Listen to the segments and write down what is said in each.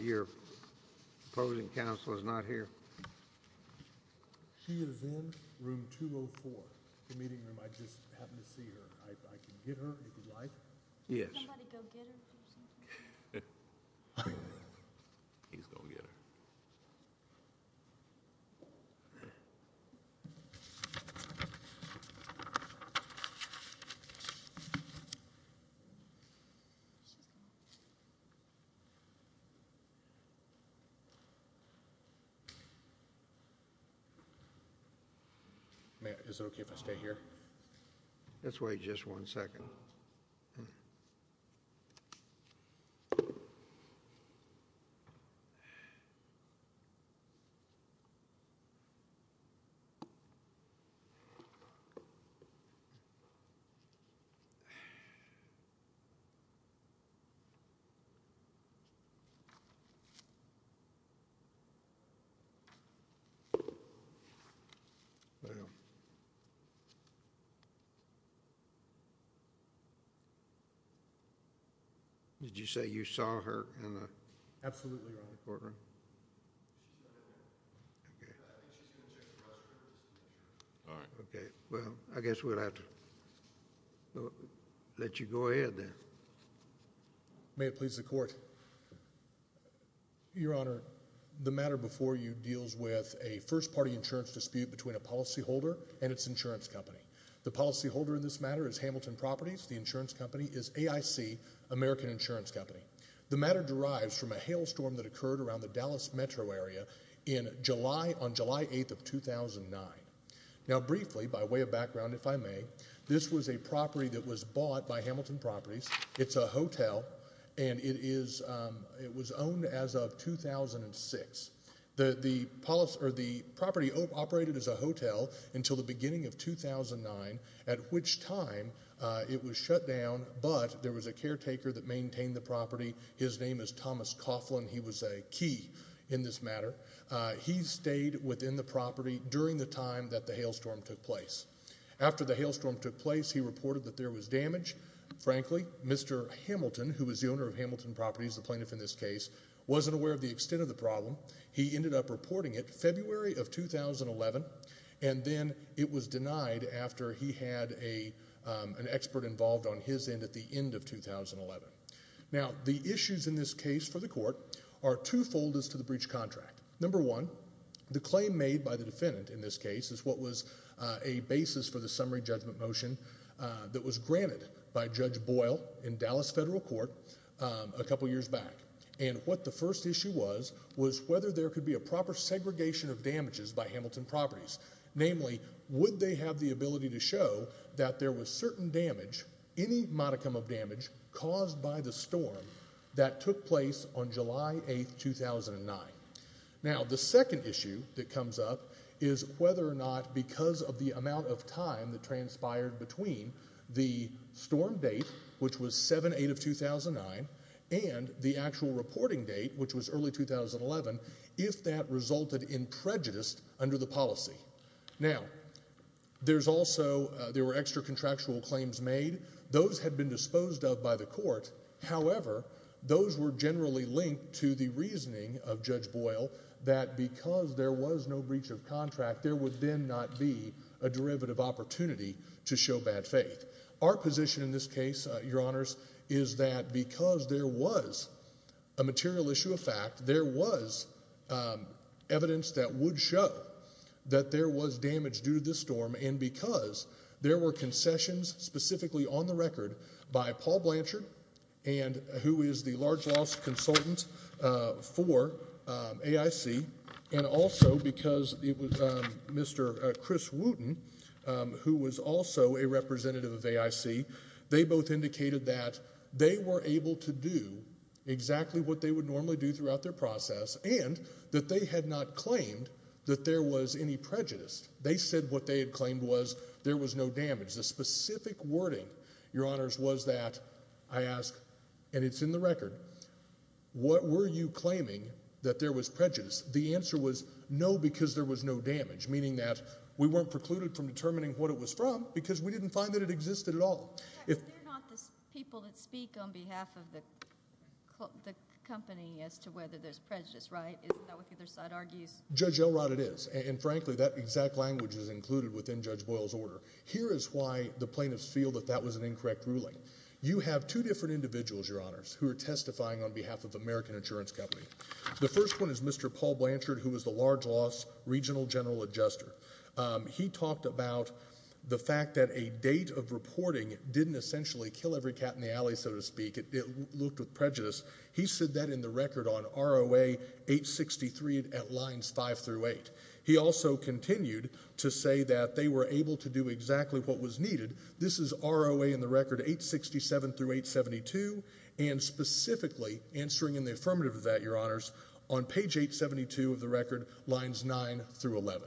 0 Opposing counsel is not here. He's going to at Hamilton. This way just one like what thought you yesterday and that motion as and motion and motion I guess we have to let you go ahead. May it please the court. The matter before you… The first part between the policy holder and its insurance company. The policy holder is AIC American holdings. The matter is from a hail storm that occurred around the Dallas metro area in July, on July 8, 2009. Briefly, by way of background if I may, this was a property that was bought by Hamilton Properties, it is a hotel and it is, it was owned as of 2006. The property operated as a hotel until the beginning of 2009 at which time it was shut down but there was a caretaker that maintained the property, his name is Thomas Coughlin, he was a key in this matter. He stayed within the property during the time that the hail storm took place. After the hail storm took place, he reported that there was damage. Frankly, Mr. Hamilton, who was the owner of Hamilton Properties, the plaintiff in this case, wasn't aware of the extent of the problem. He ended up reporting it February of 2011 and then it was denied after he had an expert involved on his end at the end of 2011. Now, the issues in this case for the court are two-fold as to the breach contract. Number one, the claim made by the defendant in this case is what was a basis for the summary judgment motion that was granted by Judge Boyle in Dallas Federal Court a couple years back. And what the first issue was, was whether there could be a proper segregation of damages by Hamilton Properties. Namely, would they have the ability to show that there was certain damage, any modicum of damage, caused by the storm that took place on July 8, 2009. Now, the second issue that comes up is whether or not because of the amount of time that transpired between the storm date, which was 7-8 of 2009, and the actual reporting date, which was early 2011, if that resulted in prejudice under the policy. Now, there's also, there were extra contractual claims made. Those had been disposed of by the court. However, those were generally linked to the reasoning of Judge Boyle that because there was no breach of contract, there would then not be a derivative opportunity to show bad faith. Our position in this case, Your Honors, is that because there was a material issue of fact, there was evidence that would show that there was damage due to the storm, and because there were concessions, specifically on the record, by Paul Blanchard, and who is the large loss consultant for AIC, and also because it was Mr. Chris Wooten, who was also a representative of AIC, they both indicated that they were able to do exactly what they would normally do throughout their process, and that they had not claimed that there was any prejudice. They said what they had claimed was there was no damage. The specific wording, Your Honors, was that, I ask, and it's in the record, what were you claiming that there was prejudice? The answer was no, because there was no damage, meaning that we weren't precluded from determining what it was from, because we didn't find that it existed at all. They're not the people that speak on behalf of the company as to whether there's prejudice, right? Isn't that what the other side argues? Judge Elrod, it is, and frankly, that exact language is included within Judge Boyle's order. Here is why the plaintiffs feel that that was an incorrect ruling. You have two different individuals, Your Honors, who are testifying on behalf of American Insurance Company. The first one is Mr. Paul Blanchard, who was the large loss regional general adjuster. He talked about the fact that a date of reporting didn't essentially kill every cat in the alley, so to speak, it looked with prejudice. He said that in the record on ROA 863 at lines five through eight. He also continued to say that they were able to do exactly what was needed. This is ROA in the record 867 through 872, and specifically, answering in the affirmative of that, Your Honors, on page 872 of the record, lines nine through 11.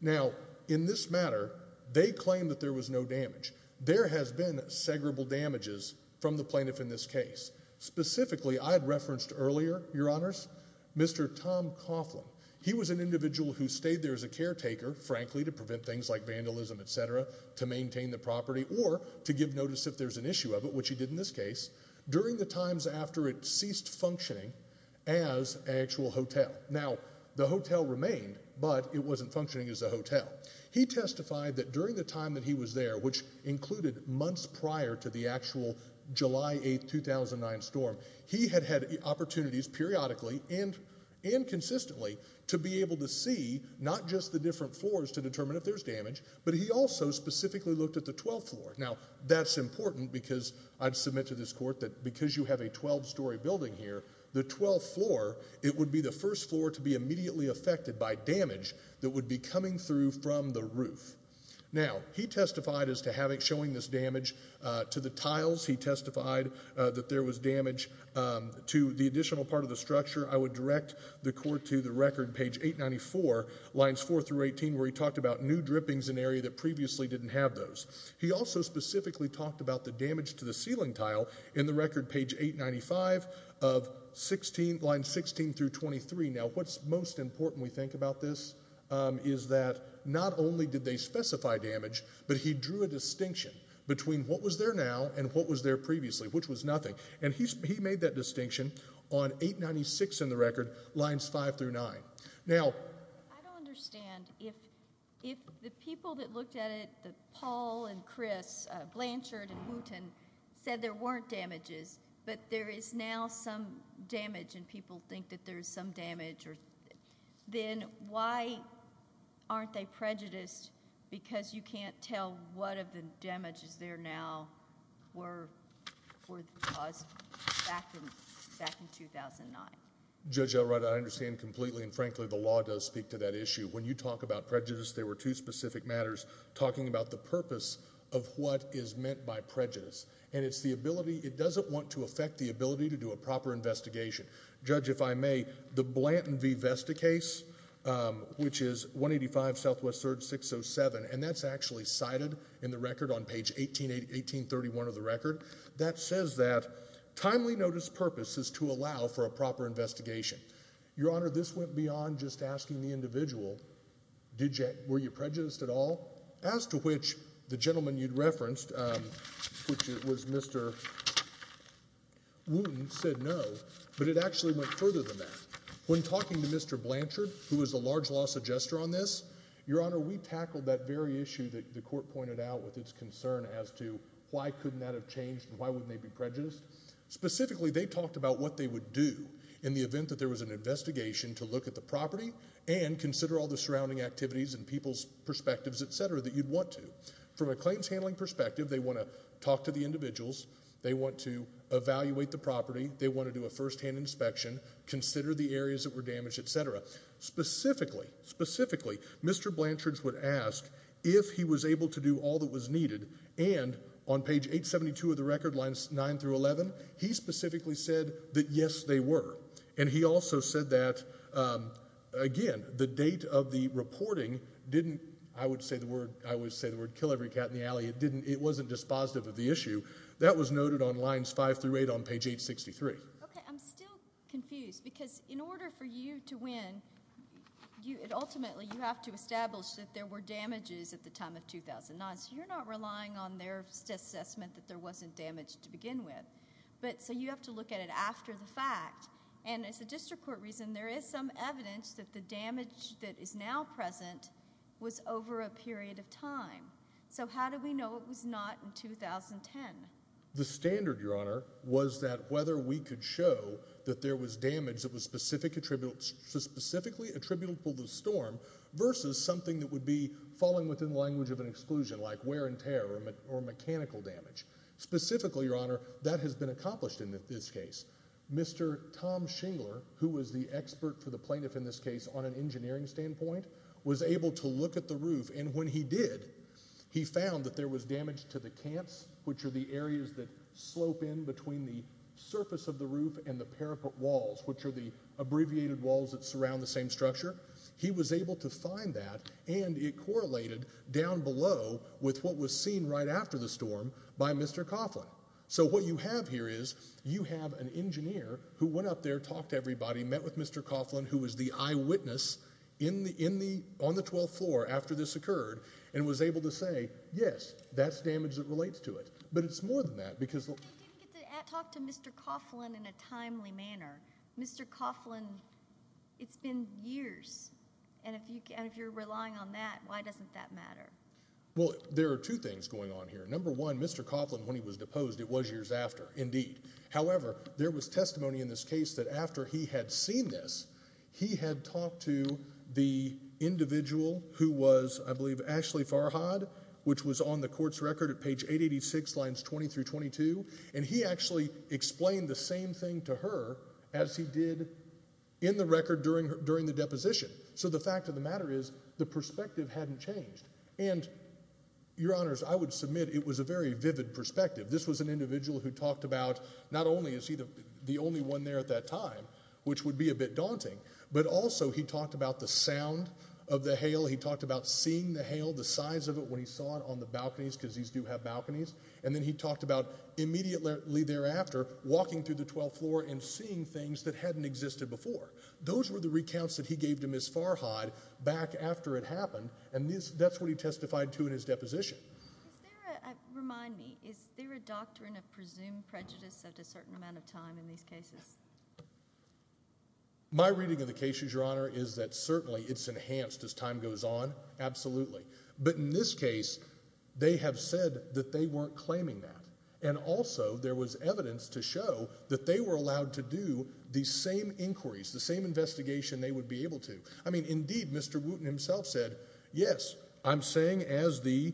Now, in this matter, they claim that there was no damage. There has been segregable damages from the plaintiff in this case. Specifically, I had referenced earlier, Your Honors, Mr. Tom Coughlin. He was an individual who stayed there as a caretaker, frankly, to prevent things like vandalism, et cetera, to maintain the property, or to give notice if there's an issue of it, which he did in this case, during the times after it ceased functioning as an actual hotel. Now, the hotel remained, but it wasn't functioning as a hotel. He testified that during the time that he was there, which included months prior to the actual July 8, 2009 storm, he had had opportunities periodically and consistently to be able to see not just the different floors to determine if there's damage, but he also specifically looked at the 12th floor. Now, that's important, because I'd submit to this court that because you have a 12-story building here, the 12th floor, it would be the first floor to be immediately affected by damage that would be coming through from the roof. Now, he testified as to showing this damage to the tiles. He testified that there was damage to the additional part of the structure. I would direct the court to the record, page 894, lines 4 through 18, where he talked about new drippings in an area that previously didn't have those. He also specifically talked about the damage to the ceiling tile in the record, page 895, of line 16 through 23. Now, what's most important, we think, about this is that not only did they specify damage, but he drew a distinction between what was there now and what was there previously, which was nothing. And he made that distinction on 896 in the record, lines 5 through 9. Now... I don't understand. If the people that looked at it, Paul and Chris Blanchard and Wooten, said there weren't damages, but there is now some damage, and people think that there's some damage, then why aren't they prejudiced? Because you can't tell what of the damages there now were caused back in 2009. Judge Elroda, I understand completely, and frankly, the law does speak to that issue. When you talk about prejudice, there were two specific matters talking about the purpose of what is meant by prejudice. And it's the ability, it doesn't want to affect the ability to do a proper investigation. Judge, if I may, the Blanton v. Vesta case, which is 185 Southwest Surge 607, and that's actually cited in the record on page 1831 of the record, that says that timely notice purpose is to allow for a proper investigation. Your Honor, this went beyond just asking the individual, were you prejudiced at all? As to which, the gentleman you'd referenced, which was Mr. Wooten, said no. But it actually went further than that. When talking to Mr. Blanchard, who was a large law suggester on this, Your Honor, we tackled that very issue that the court pointed out with its concern as to, why couldn't that have changed? Why wouldn't they be prejudiced? Specifically, they talked about what they would do in the event that there was an investigation to look at the property and consider all the surrounding activities and people's perspectives, et cetera, that you'd want to. From a claims handling perspective, they want to talk to the individuals. They want to evaluate the property. They want to do a firsthand inspection, consider the areas that were damaged, et cetera. Specifically, specifically, Mr. Blanchard would ask if he was able to do all that was needed. And on page 872 of the record, lines 9 through 11, he specifically said that, yes, they were. And he also said that, again, the date of the reporting didn't, I would say the word, kill every cat in the alley. It wasn't dispositive of the issue. That was noted on lines 5 through 8 on page 863. OK, I'm still confused. Because in order for you to win, ultimately, you have to establish that there were damages at the time of 2009. So you're not relying on their assessment that there wasn't damage to begin with. So you have to look at it after the fact. And as a district court reason, there is some evidence that the damage that is now present was over a period of time. So how do we know it was not in 2010? The standard, Your Honor, was that whether we could show that there was damage that was specifically attributable to the storm versus something that would be falling within the language of an exclusion, like wear and tear or mechanical damage. Specifically, Your Honor, that has been accomplished in this case. Mr. Tom Shingler, who was the expert for the plaintiff in this case on an engineering standpoint, was able to look at the roof. And when he did, he found that there was damage to the cants, which are the areas that are the peripete walls, which are the abbreviated walls that surround the same structure. He was able to find that. And it correlated down below with what was seen right after the storm by Mr. Coughlin. So what you have here is you have an engineer who went up there, talked to everybody, met with Mr. Coughlin, who was the eyewitness on the 12th floor after this occurred, and was able to say, yes, that's damage that relates to it. But it's more than that, because the- But he didn't get to talk to Mr. Coughlin in a timely manner. Mr. Coughlin, it's been years. And if you're relying on that, why doesn't that matter? Well, there are two things going on here. Number one, Mr. Coughlin, when he was deposed, it was years after, indeed. However, there was testimony in this case that after he had seen this, he had talked to the individual who was, I believe, Ashley Farhad, which was on the court's record at page 886, lines 20 through 22. And he actually explained the same thing to her as he did in the record during the deposition. So the fact of the matter is, the perspective hadn't changed. And your honors, I would submit it was a very vivid perspective. This was an individual who talked about, not only is he the only one there at that time, which would be a bit daunting, but also he talked about the sound of the hail. He talked about seeing the hail, the size of it when he saw it on the balconies, because these do have balconies. And then he talked about immediately thereafter, walking through the 12th floor and seeing things that hadn't existed before. Those were the recounts that he gave to Ms. Farhad back after it happened. And that's what he testified to in his deposition. Remind me, is there a doctrine of presumed prejudice at a certain amount of time in these cases? My reading of the cases, your honor, is that certainly it's enhanced as time goes on, absolutely. But in this case, they have said that they weren't claiming that. And also, there was evidence to show that they were allowed to do these same inquiries, the same investigation they would be able to. I mean, indeed, Mr. Wooten himself said, yes, I'm saying as the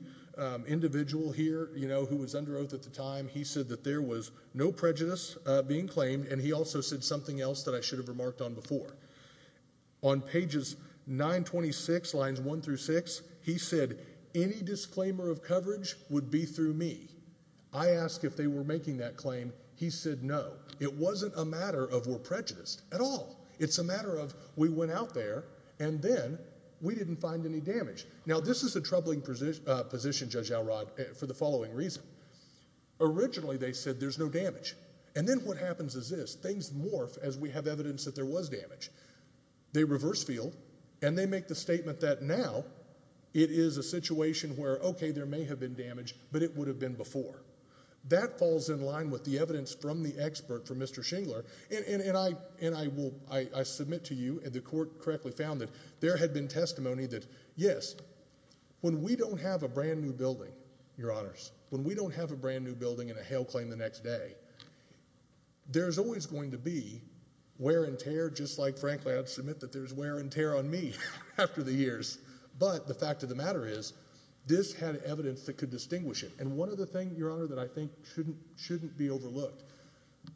individual here, who was under oath at the time, he said that there was no prejudice being claimed. And he also said something else that I should have remarked on before. On pages 926, lines 1 through 6, he said, any disclaimer of coverage would be through me. I asked if they were making that claim. He said, no. It wasn't a matter of we're prejudiced at all. It's a matter of we went out there, and then we didn't find any damage. Now, this is a troubling position, Judge Elrod, for the following reason. Originally, they said there's no damage. And then what happens is this. Things morph as we have evidence that there was damage. They reverse field, and they make the statement that now it is a situation where, OK, there may have been damage, but it would have been before. That falls in line with the evidence from the expert, from Mr. Shingler. And I submit to you, and the court correctly found that there had been testimony that, yes, when we don't have a brand new building, your honors, when we don't have a brand new building and a hail claim the next day, there's always going to be wear and tear, just like, frankly, I'd submit that there's wear and tear on me after the years. But the fact of the matter is, this had evidence that could distinguish it. And one other thing, your honor, that I think shouldn't be overlooked.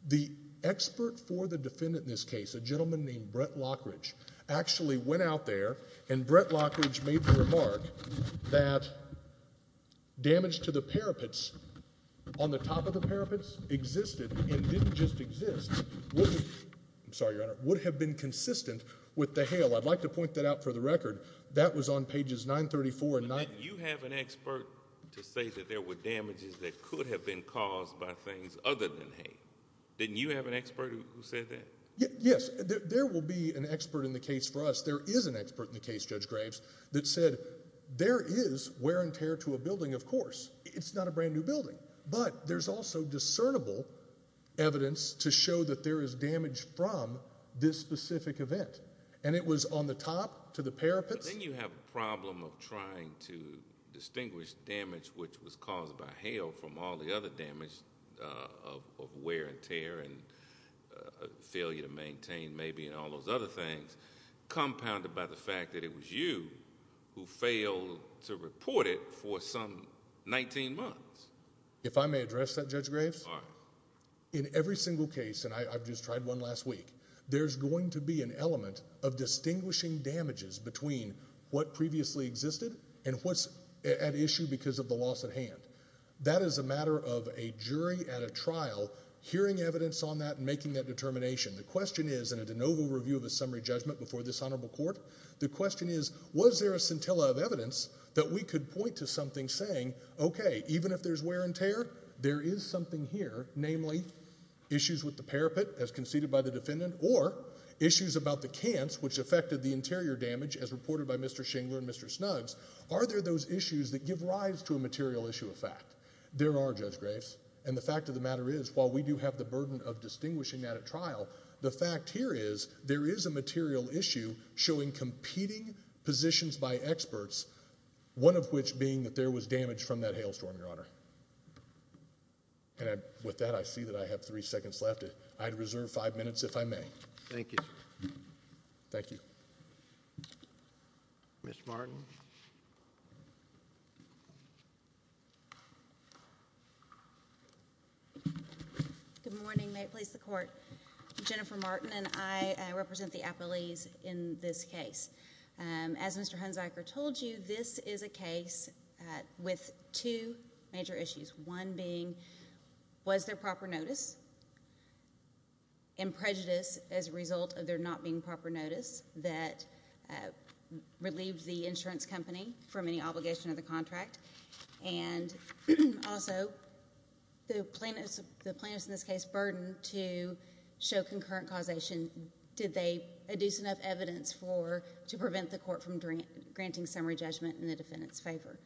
The expert for the defendant in this case, a gentleman named Brett Lockridge, actually went out there, and Brett Lockridge made the remark that damage to the parapets on the top of the parapets existed and didn't just exist. I'm sorry, your honor. Would have been consistent with the hail. I'd like to point that out for the record. That was on pages 934 and 935. But didn't you have an expert to say that there were damages that could have been caused by things other than hail? Didn't you have an expert who said that? Yes, there will be an expert in the case for us. There is an expert in the case, Judge Graves, that said there is wear and tear to a building, of course. It's not a brand new building. But there's also discernible evidence to show that there is damage from this specific event. And it was on the top to the parapets. But then you have a problem of trying to distinguish damage which was caused by hail from all the other damage of wear and tear and failure to maintain, maybe, and all those other things, compounded by the fact that it was you who failed to report it for some 19 months. If I may address that, Judge Graves. All right. In every single case, and I've just tried one last week, there's going to be an element of distinguishing damages between what previously existed and what's at issue because of the loss at hand. That is a matter of a jury at a trial hearing evidence on that and making that determination. The question is, in a de novo review of a summary judgment before this honorable court, the question is, was there a scintilla of evidence that we could point to something saying, OK, even if there's wear and tear, there is something here, namely issues with the parapet, as conceded by the defendant, or issues about the cants, which affected the interior damage, as reported by Mr. Shingler and Mr. Snuggs, are there those issues that give rise to a material issue of fact? There are, Judge Graves. And the fact of the matter is, while we do have the burden of distinguishing that at trial, the fact here is, there is a material issue showing competing positions by experts, one of which being that there was damage from that hailstorm, Your Honor. And with that, I see that I have three seconds left. I'd reserve five minutes, if I may. Thank you. Thank you. Ms. Martin. Good morning. May it please the court. Jennifer Martin, and I represent the appellees in this case. As Mr. Hunsiker told you, this is a case with two major issues, one being, was there proper notice? And prejudice as a result of there not being proper notice that relieved the insurance company from any obligation of the contract? And also, the plaintiff's, in this case, burden to show concurrent causation, did they adduce enough evidence to prevent the court from granting summary judgment in the defendant's favor?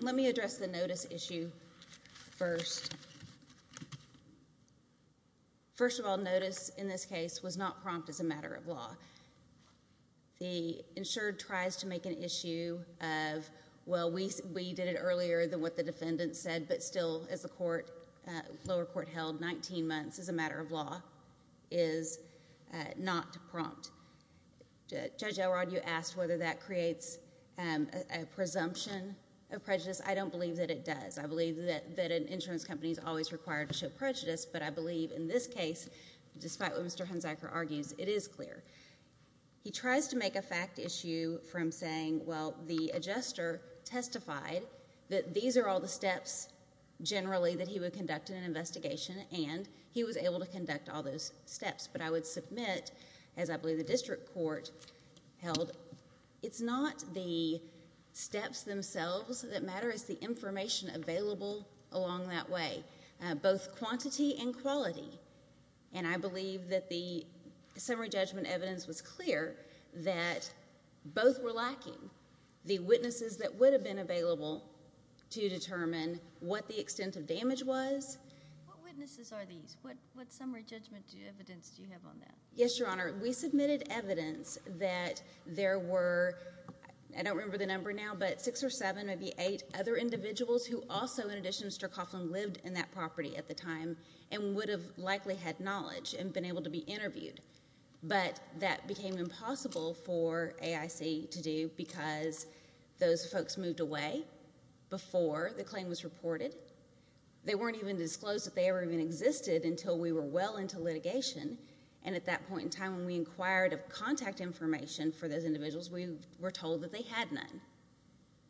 Let me address the notice issue first. First of all, notice in this case was not prompt as a matter of law. The insured tries to make an issue of, well, we did it earlier than what the defendant said, but still, as the lower court held, 19 months as a matter of law is not prompt. Judge Elrod, you asked whether that creates a prompt presumption of prejudice. I don't believe that it does. I believe that an insurance company is always required to show prejudice, but I believe in this case, despite what Mr. Hunsiker argues, it is clear. He tries to make a fact issue from saying, well, the adjuster testified that these are all the steps, generally, that he would conduct in an investigation, and he was able to conduct all those steps. But I would submit, as I believe the district court held, it's not the steps themselves that matter. It's the information available along that way, both quantity and quality. And I believe that the summary judgment evidence was clear that both were lacking. The witnesses that would have been available to determine what the extent of damage was. What witnesses are these? What summary judgment evidence do you have on that? Yes, Your Honor, we submitted evidence that there were, I don't remember the number now, but six or seven, maybe eight other individuals who also, in addition to Mr. Coughlin, lived in that property at the time and would have likely had knowledge and been able to be interviewed. But that became impossible for AIC to do because those folks moved away before the claim was reported. They weren't even disclosed that they ever even existed until we were well into litigation. And at that point in time, when we inquired of contact information for those individuals, we were told that they had none.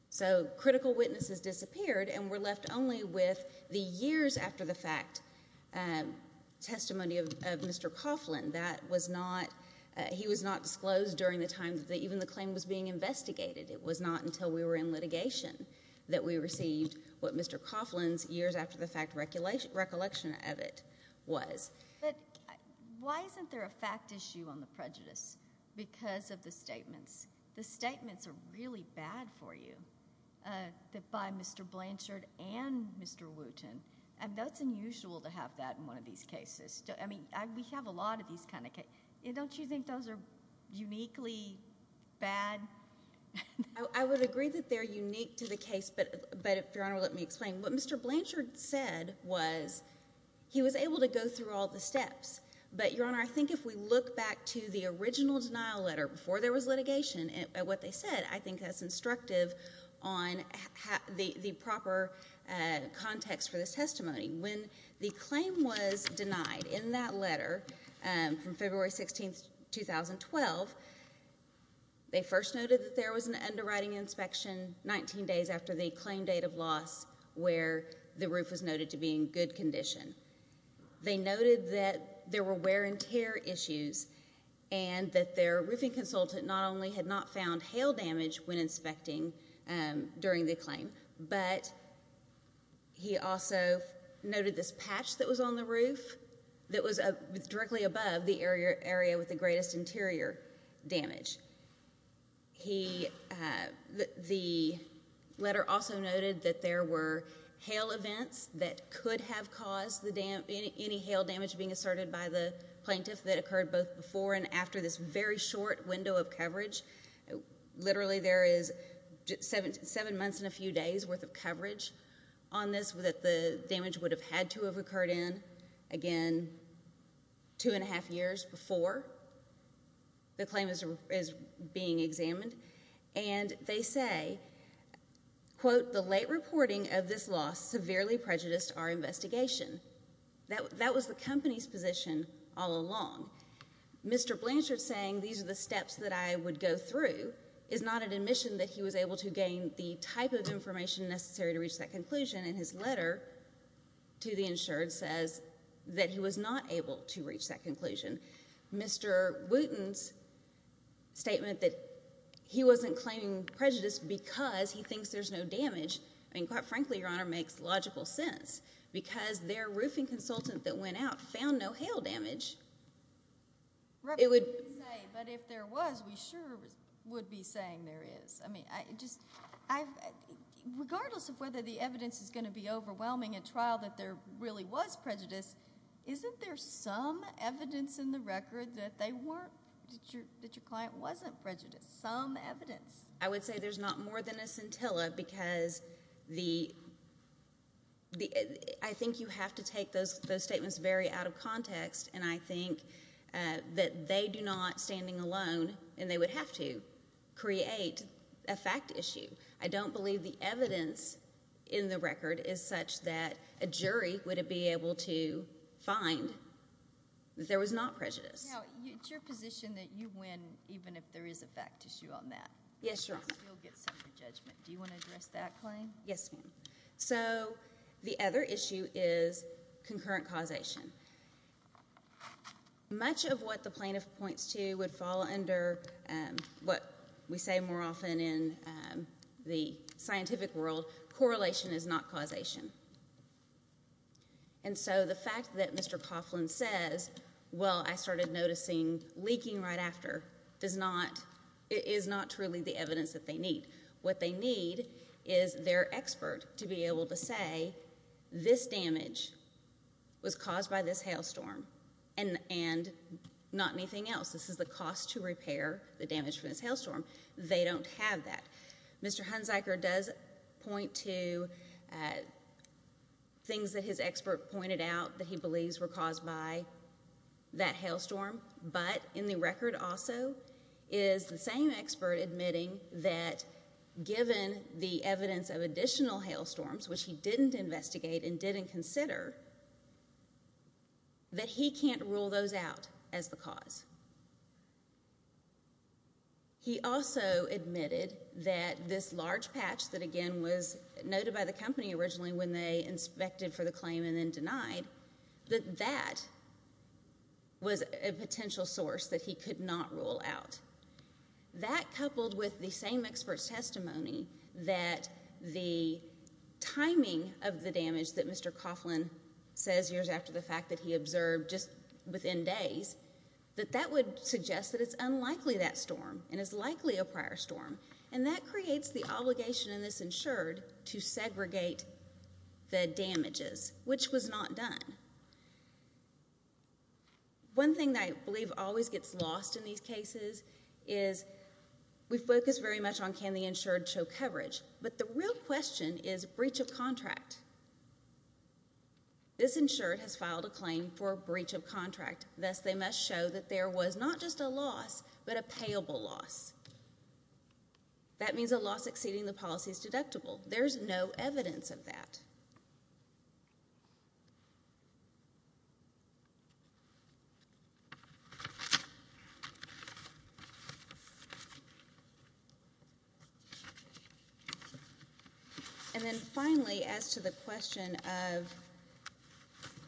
So critical witnesses disappeared and were left only with the years after the fact testimony of Mr. Coughlin. That was not, he was not disclosed during the time that even the claim was being investigated. It was not until we were in litigation that we received what Mr. Coughlin's years after the fact recollection of it was. But why isn't there a fact issue on the prejudice? Because of the statements. The statements are really bad for you that by Mr. Blanchard and Mr. Wooten. And that's unusual to have that in one of these cases. I mean, we have a lot of these kind of cases. Don't you think those are uniquely bad? I would agree that they're unique to the case, but, Your Honor, let me explain. What Mr. Blanchard said was he was able to go through all the steps. But, Your Honor, I think if we look back to the original denial letter before there was litigation at what they said, I think that's instructive on the proper context for this testimony. When the claim was denied in that letter from February 16, 2012, they first noted that there was an underwriting inspection 19 days after the claim date of loss where the roof was noted to be in good condition. They noted that there were wear and tear issues and that their roofing consultant not only had not found hail damage when inspecting during the claim, but he also noted this patch that was on the roof that was directly above the area with the greatest interior damage. The letter also noted that there were hail events that could have caused any hail damage being asserted by the plaintiff that occurred both before and after this very short window of coverage. Literally, there is seven months and a few days worth of coverage on this that the damage would have had to have occurred in, again, two and a half years before the claim is being examined. And they say, quote, the late reporting of this loss severely prejudiced our investigation. That was the company's position all along. Mr. Blanchard saying these are the steps that I would go through is not an admission that he was able to gain the type of information necessary to reach that conclusion. And his letter to the insured says that he was not able to reach that conclusion. Mr. Wooten's statement that he wasn't claiming prejudice because he thinks there's no damage, I mean, that doesn't make logical sense because their roofing consultant that went out found no hail damage. It would say, but if there was, we sure would be saying there is. I mean, regardless of whether the evidence is going to be overwhelming a trial that there really was prejudice, isn't there some evidence in the record that they weren't, that your client wasn't prejudiced, some evidence? I would say there's not more than a scintilla because I think you have to take those statements very out of context. And I think that they do not, standing alone, and they would have to, create a fact issue. I don't believe the evidence in the record is such that a jury would be able to find that there was not prejudice. Now, it's your position that you win, even if there is a fact issue on that. Yes, Your Honor. You'll get some of your judgment. Do you want to address that claim? Yes, ma'am. So the other issue is concurrent causation. Much of what the plaintiff points to would fall under what we say more often in the scientific world. Correlation is not causation. And so the fact that Mr. Coughlin says, well, I started noticing leaking right after, is not truly the evidence that they need. What they need is their expert to be able to say, this damage was caused by this hailstorm, and not anything else. This is the cost to repair the damage from this hailstorm. They don't have that. Mr. Hunziker does point to things that his expert pointed out that he believes were caused by that hailstorm. But in the record, also, is the same expert admitting that given the evidence of additional hailstorms, which he didn't investigate and didn't consider, that he can't rule those out as the cause. He also admitted that this large patch that, again, was noted by the company originally when they inspected for the claim and then denied, that that was a potential source that he could not rule out. That, coupled with the same expert's testimony that the timing of the damage that Mr. Coughlin says years after the fact that he observed just within days, that that would suggest that it's unlikely that storm and is likely a prior storm. And that creates the obligation in this insured to segregate the damages, which was not done. One thing that I believe always gets lost in these cases is we focus very much on can the insured show coverage. But the real question is breach of contract. This insured has filed a claim for breach of contract. Thus, they must show that there was not just a loss, but a payable loss. That means a loss exceeding the policy's deductible. There's no evidence of that. And then finally, as to the question of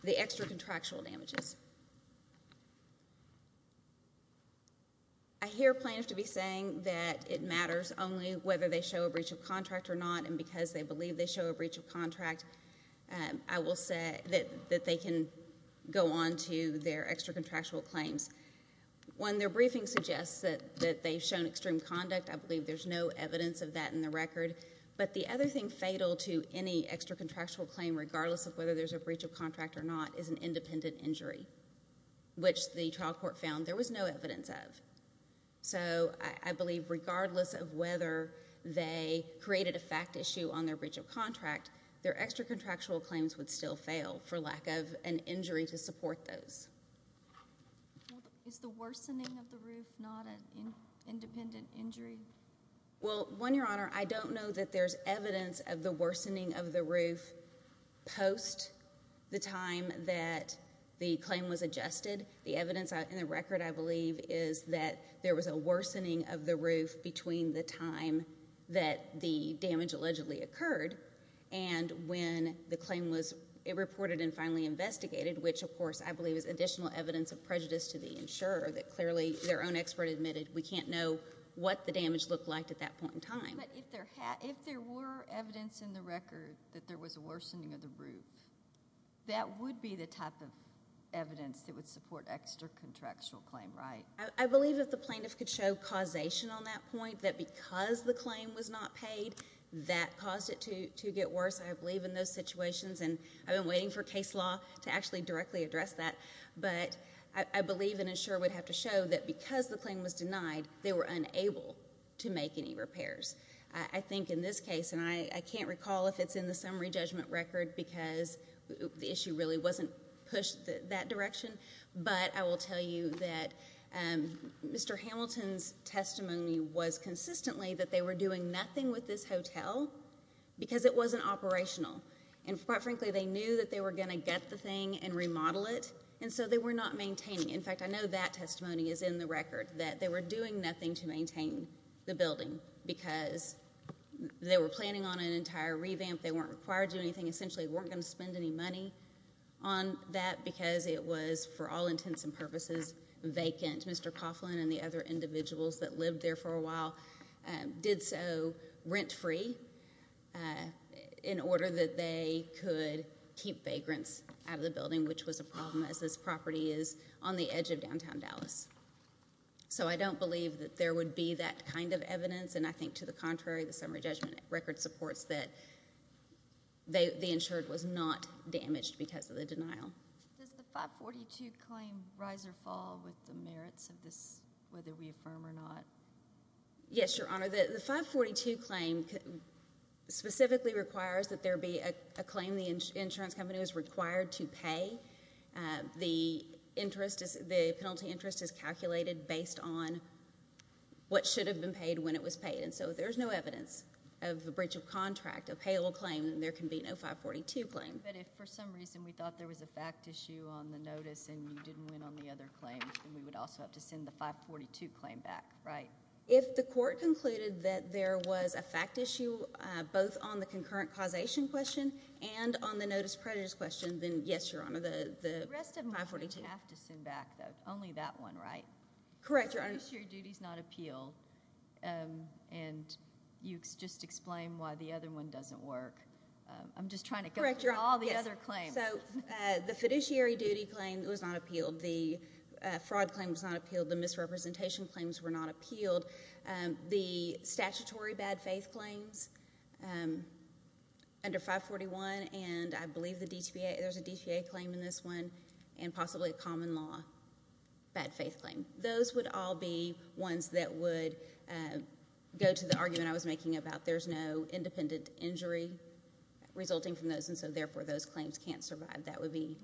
the extra contractual damages. I hear plaintiffs to be saying that it matters only whether they show a breach of contract or not and because they believe they show a breach of contract, I will say that they can go on to their extra contractual claims. When their briefing suggests that they've shown extreme conduct, I believe there's no evidence of that in the record. But the other thing fatal to any extra contractual claim, regardless of whether there's a breach of contract or not, is an independent injury, which the trial court found there was no evidence of. So I believe regardless of whether they created a fact issue on their breach of contract, their extra contractual claims would still fail for lack of an injury to support those. Is the worsening of the roof not an independent injury? Well, one, Your Honor, I don't know that there's evidence of the worsening of the roof post the time that the claim was adjusted. The evidence in the record, I believe, is that there was a worsening of the roof between the time that the damage allegedly occurred and when the claim was reported and finally investigated, which, of course, I believe is additional evidence of prejudice to the insurer, that clearly their own expert admitted we can't know what the damage looked like at that point in time. But if there were evidence in the record that there was a worsening of the roof, that would be the type of evidence that would support extra contractual claim, right? I believe if the plaintiff could show causation on that point, that because the claim was not paid, that caused it to get worse, I believe, in those situations. And I've been waiting for case law to actually directly address that. But I believe an insurer would have to show that because the claim was denied, they were unable to make any repairs. I think in this case, and I can't recall if it's in the summary judgment record because the issue really wasn't pushed that direction, but I will tell you that Mr. Hamilton's testimony was consistently that they were doing nothing with this hotel because it wasn't operational. And quite frankly, they knew that they were gonna get the thing and remodel it, and so they were not maintaining. In fact, I know that testimony is in the record, that they were doing nothing to maintain the building because they were planning on an entire revamp, they weren't required to do anything, essentially weren't gonna spend any money on that because it was, for all intents and purposes, vacant. Mr. Coughlin and the other individuals that lived there for a while did so rent-free in order that they could keep vagrants out of the building, which was a problem as this property is on the edge of downtown Dallas. So I don't believe that there would be that kind of evidence, and I think to the contrary, the summary judgment record supports that the insured was not damaged because of the denial. Does the 542 claim rise or fall with the merits of this, whether we affirm or not? Yes, Your Honor, the 542 claim specifically requires that there be a claim the insurance company is required to pay. The penalty interest is calculated based on what should have been paid when it was paid, and so there's no evidence of a breach of contract, a payable claim, and there can be no 542 claim. But if for some reason we thought there was a fact issue on the notice and you didn't win on the other claim, then we would also have to send the 542 claim back, right? If the court concluded that there was a fact issue both on the concurrent causation question and on the notice prejudice question, then yes, Your Honor, the 542. The rest of them would have to send back, though. Only that one, right? Correct, Your Honor. The insured duty is not appeal, and you just explained why the other one doesn't work. I'm just trying to get through all the other claims. So the fiduciary duty claim was not appealed. The fraud claim was not appealed. The misrepresentation claims were not appealed. The statutory bad faith claims under 541, and I believe there's a DCA claim in this one, and possibly a common law bad faith claim. Those would all be ones that would go to the argument I was making about there's no independent injury resulting from those, and so, therefore, those claims can't survive. That would be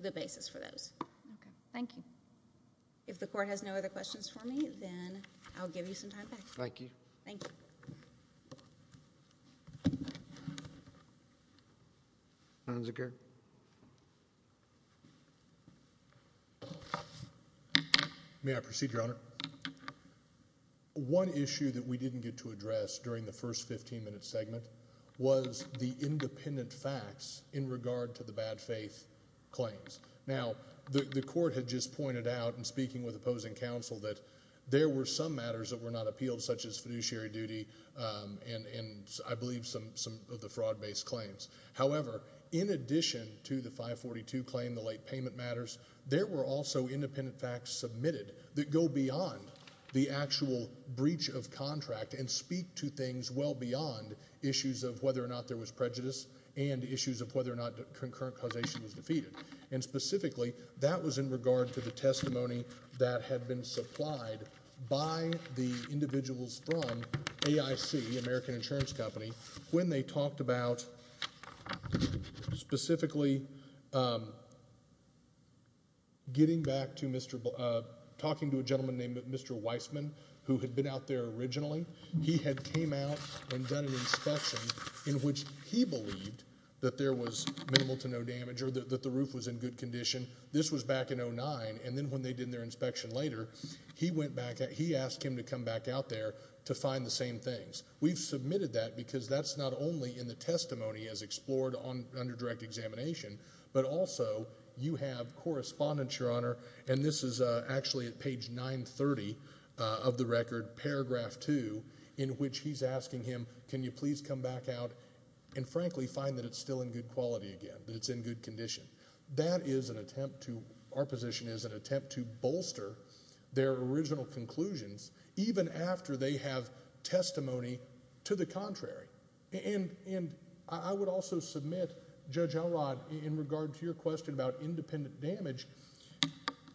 the basis for those. Okay, thank you. If the court has no other questions for me, then I'll give you some time back. Thank you. Thank you. Sons of Garrett. May I proceed, Your Honor? Your Honor, one issue that we didn't get to address during the first 15-minute segment was the independent facts in regard to the bad faith claims. Now, the court had just pointed out in speaking with opposing counsel that there were some matters that were not appealed, such as fiduciary duty and, I believe, some of the fraud-based claims. However, in addition to the 542 claim, the late payment matters, there were also independent facts submitted that go beyond the actual breach of contract and speak to things well beyond issues of whether or not there was prejudice and issues of whether or not the concurrent causation was defeated. And, specifically, that was in regard to the testimony that had been supplied by the individuals from AIC, American Insurance Company, when they talked about, specifically, getting back to Mr. Blank... Talking to a gentleman named Mr. Weissman, who had been out there originally. He had came out and done an inspection in which he believed that there was minimal to no damage or that the roof was in good condition. This was back in 2009, and then when they did their inspection later, he went back and he asked him to come back out there to find the same things. We've submitted that because that's not only in the testimony as explored under direct examination, but also you have correspondence, Your Honour, and this is actually at page 930 of the record, paragraph two, in which he's asking him, can you please come back out and, frankly, find that it's still in good quality again, that it's in good condition. That is an attempt to... Our position is an attempt to bolster their original conclusions, even after they have testimony to the contrary. And I would also submit, Judge Elrod, in regard to your question about independent damage,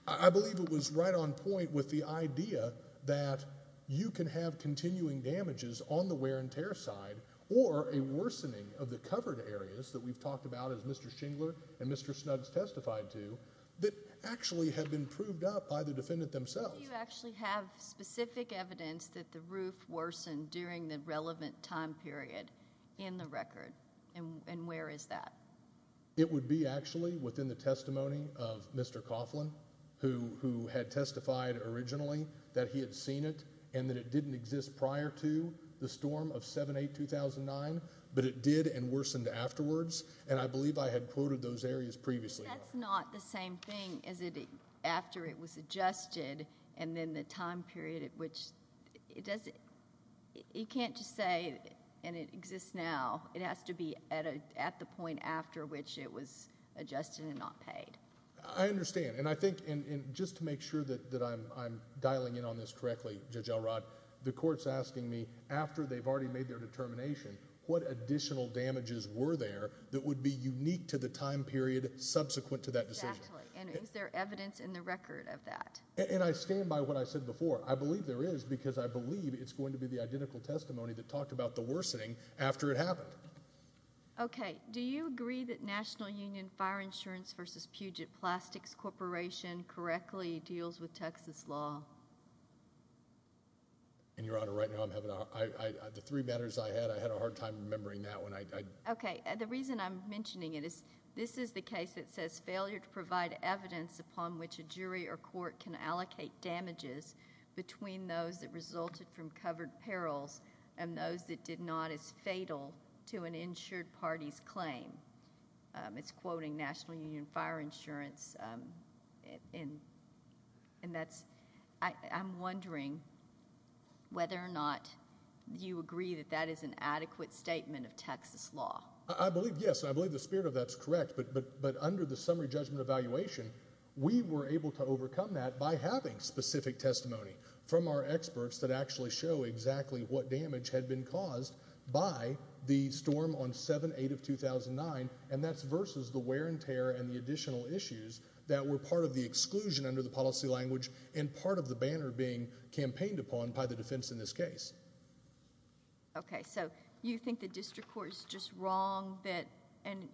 I believe it was right on point with the idea that you can have continuing damages on the wear and tear side or a worsening of the covered areas that we've talked about, as Mr. Shingler and Mr. Snuggs testified to, that actually had been proved up by the defendant themselves. Do you actually have specific evidence that the roof worsened during the relevant time period in the record, and where is that? It would be actually within the testimony of Mr. Coughlin, who had testified originally that he had seen it and that it didn't exist prior to the storm of 7-8-2009, but it did and worsened afterwards, and I believe I had quoted those areas previously. That's not the same thing as it... after it was adjusted and then the time period at which... It doesn't... You can't just say, and it exists now. It has to be at the point after which it was adjusted and not paid. I understand, and I think... And just to make sure that I'm dialing in on this correctly, Judge Elrod, the court's asking me, after they've already made their determination, what additional damages were there that would be unique to the time period subsequent to that decision? Exactly, and is there evidence in the record of that? And I stand by what I said before. I believe there is, because I believe it's going to be the identical testimony that talked about the worsening after it happened. OK, do you agree that National Union Fire Insurance versus Puget Plastics Corporation correctly deals with Texas law? And, Your Honor, right now I'm having... The three matters I had, I had a hard time remembering that one. OK, the reason I'm mentioning it is this is the case that says, failure to provide evidence upon which a jury or court can allocate damages between those that resulted from covered perils and those that did not is fatal to an insured party's claim. It's quoting National Union Fire Insurance, and that's... I'm wondering whether or not you agree that that is an adequate statement of Texas law. I believe, yes, and I believe the spirit of that's correct, but under the summary judgment evaluation, we were able to overcome that by having specific testimony from our experts that actually show exactly what damage had been caused by the storm on 7-8 of 2009, and that's versus the wear and tear and the additional issues that were part of the exclusion under the policy language and part of the banner being campaigned upon by the defense in this case. OK, so you think the district court is just wrong that...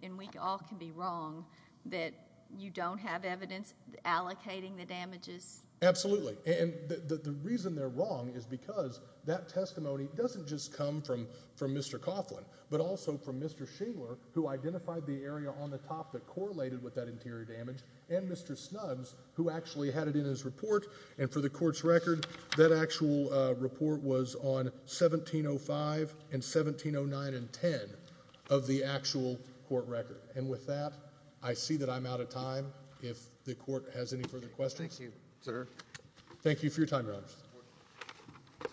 And we all can be wrong that you don't have evidence allocating the damages? Absolutely, and the reason they're wrong is because that testimony doesn't just come from Mr Coughlin, but also from Mr Shingler, who identified the area on the top that correlated with that interior damage, and Mr Snuggs, who actually had it in his report, and for the court's record, that actual report was on 1705 and 1709 and 10 of the actual court record. And with that, I see that I'm out of time. If the court has any further questions... Sir? Thank you for your time, Your Honour.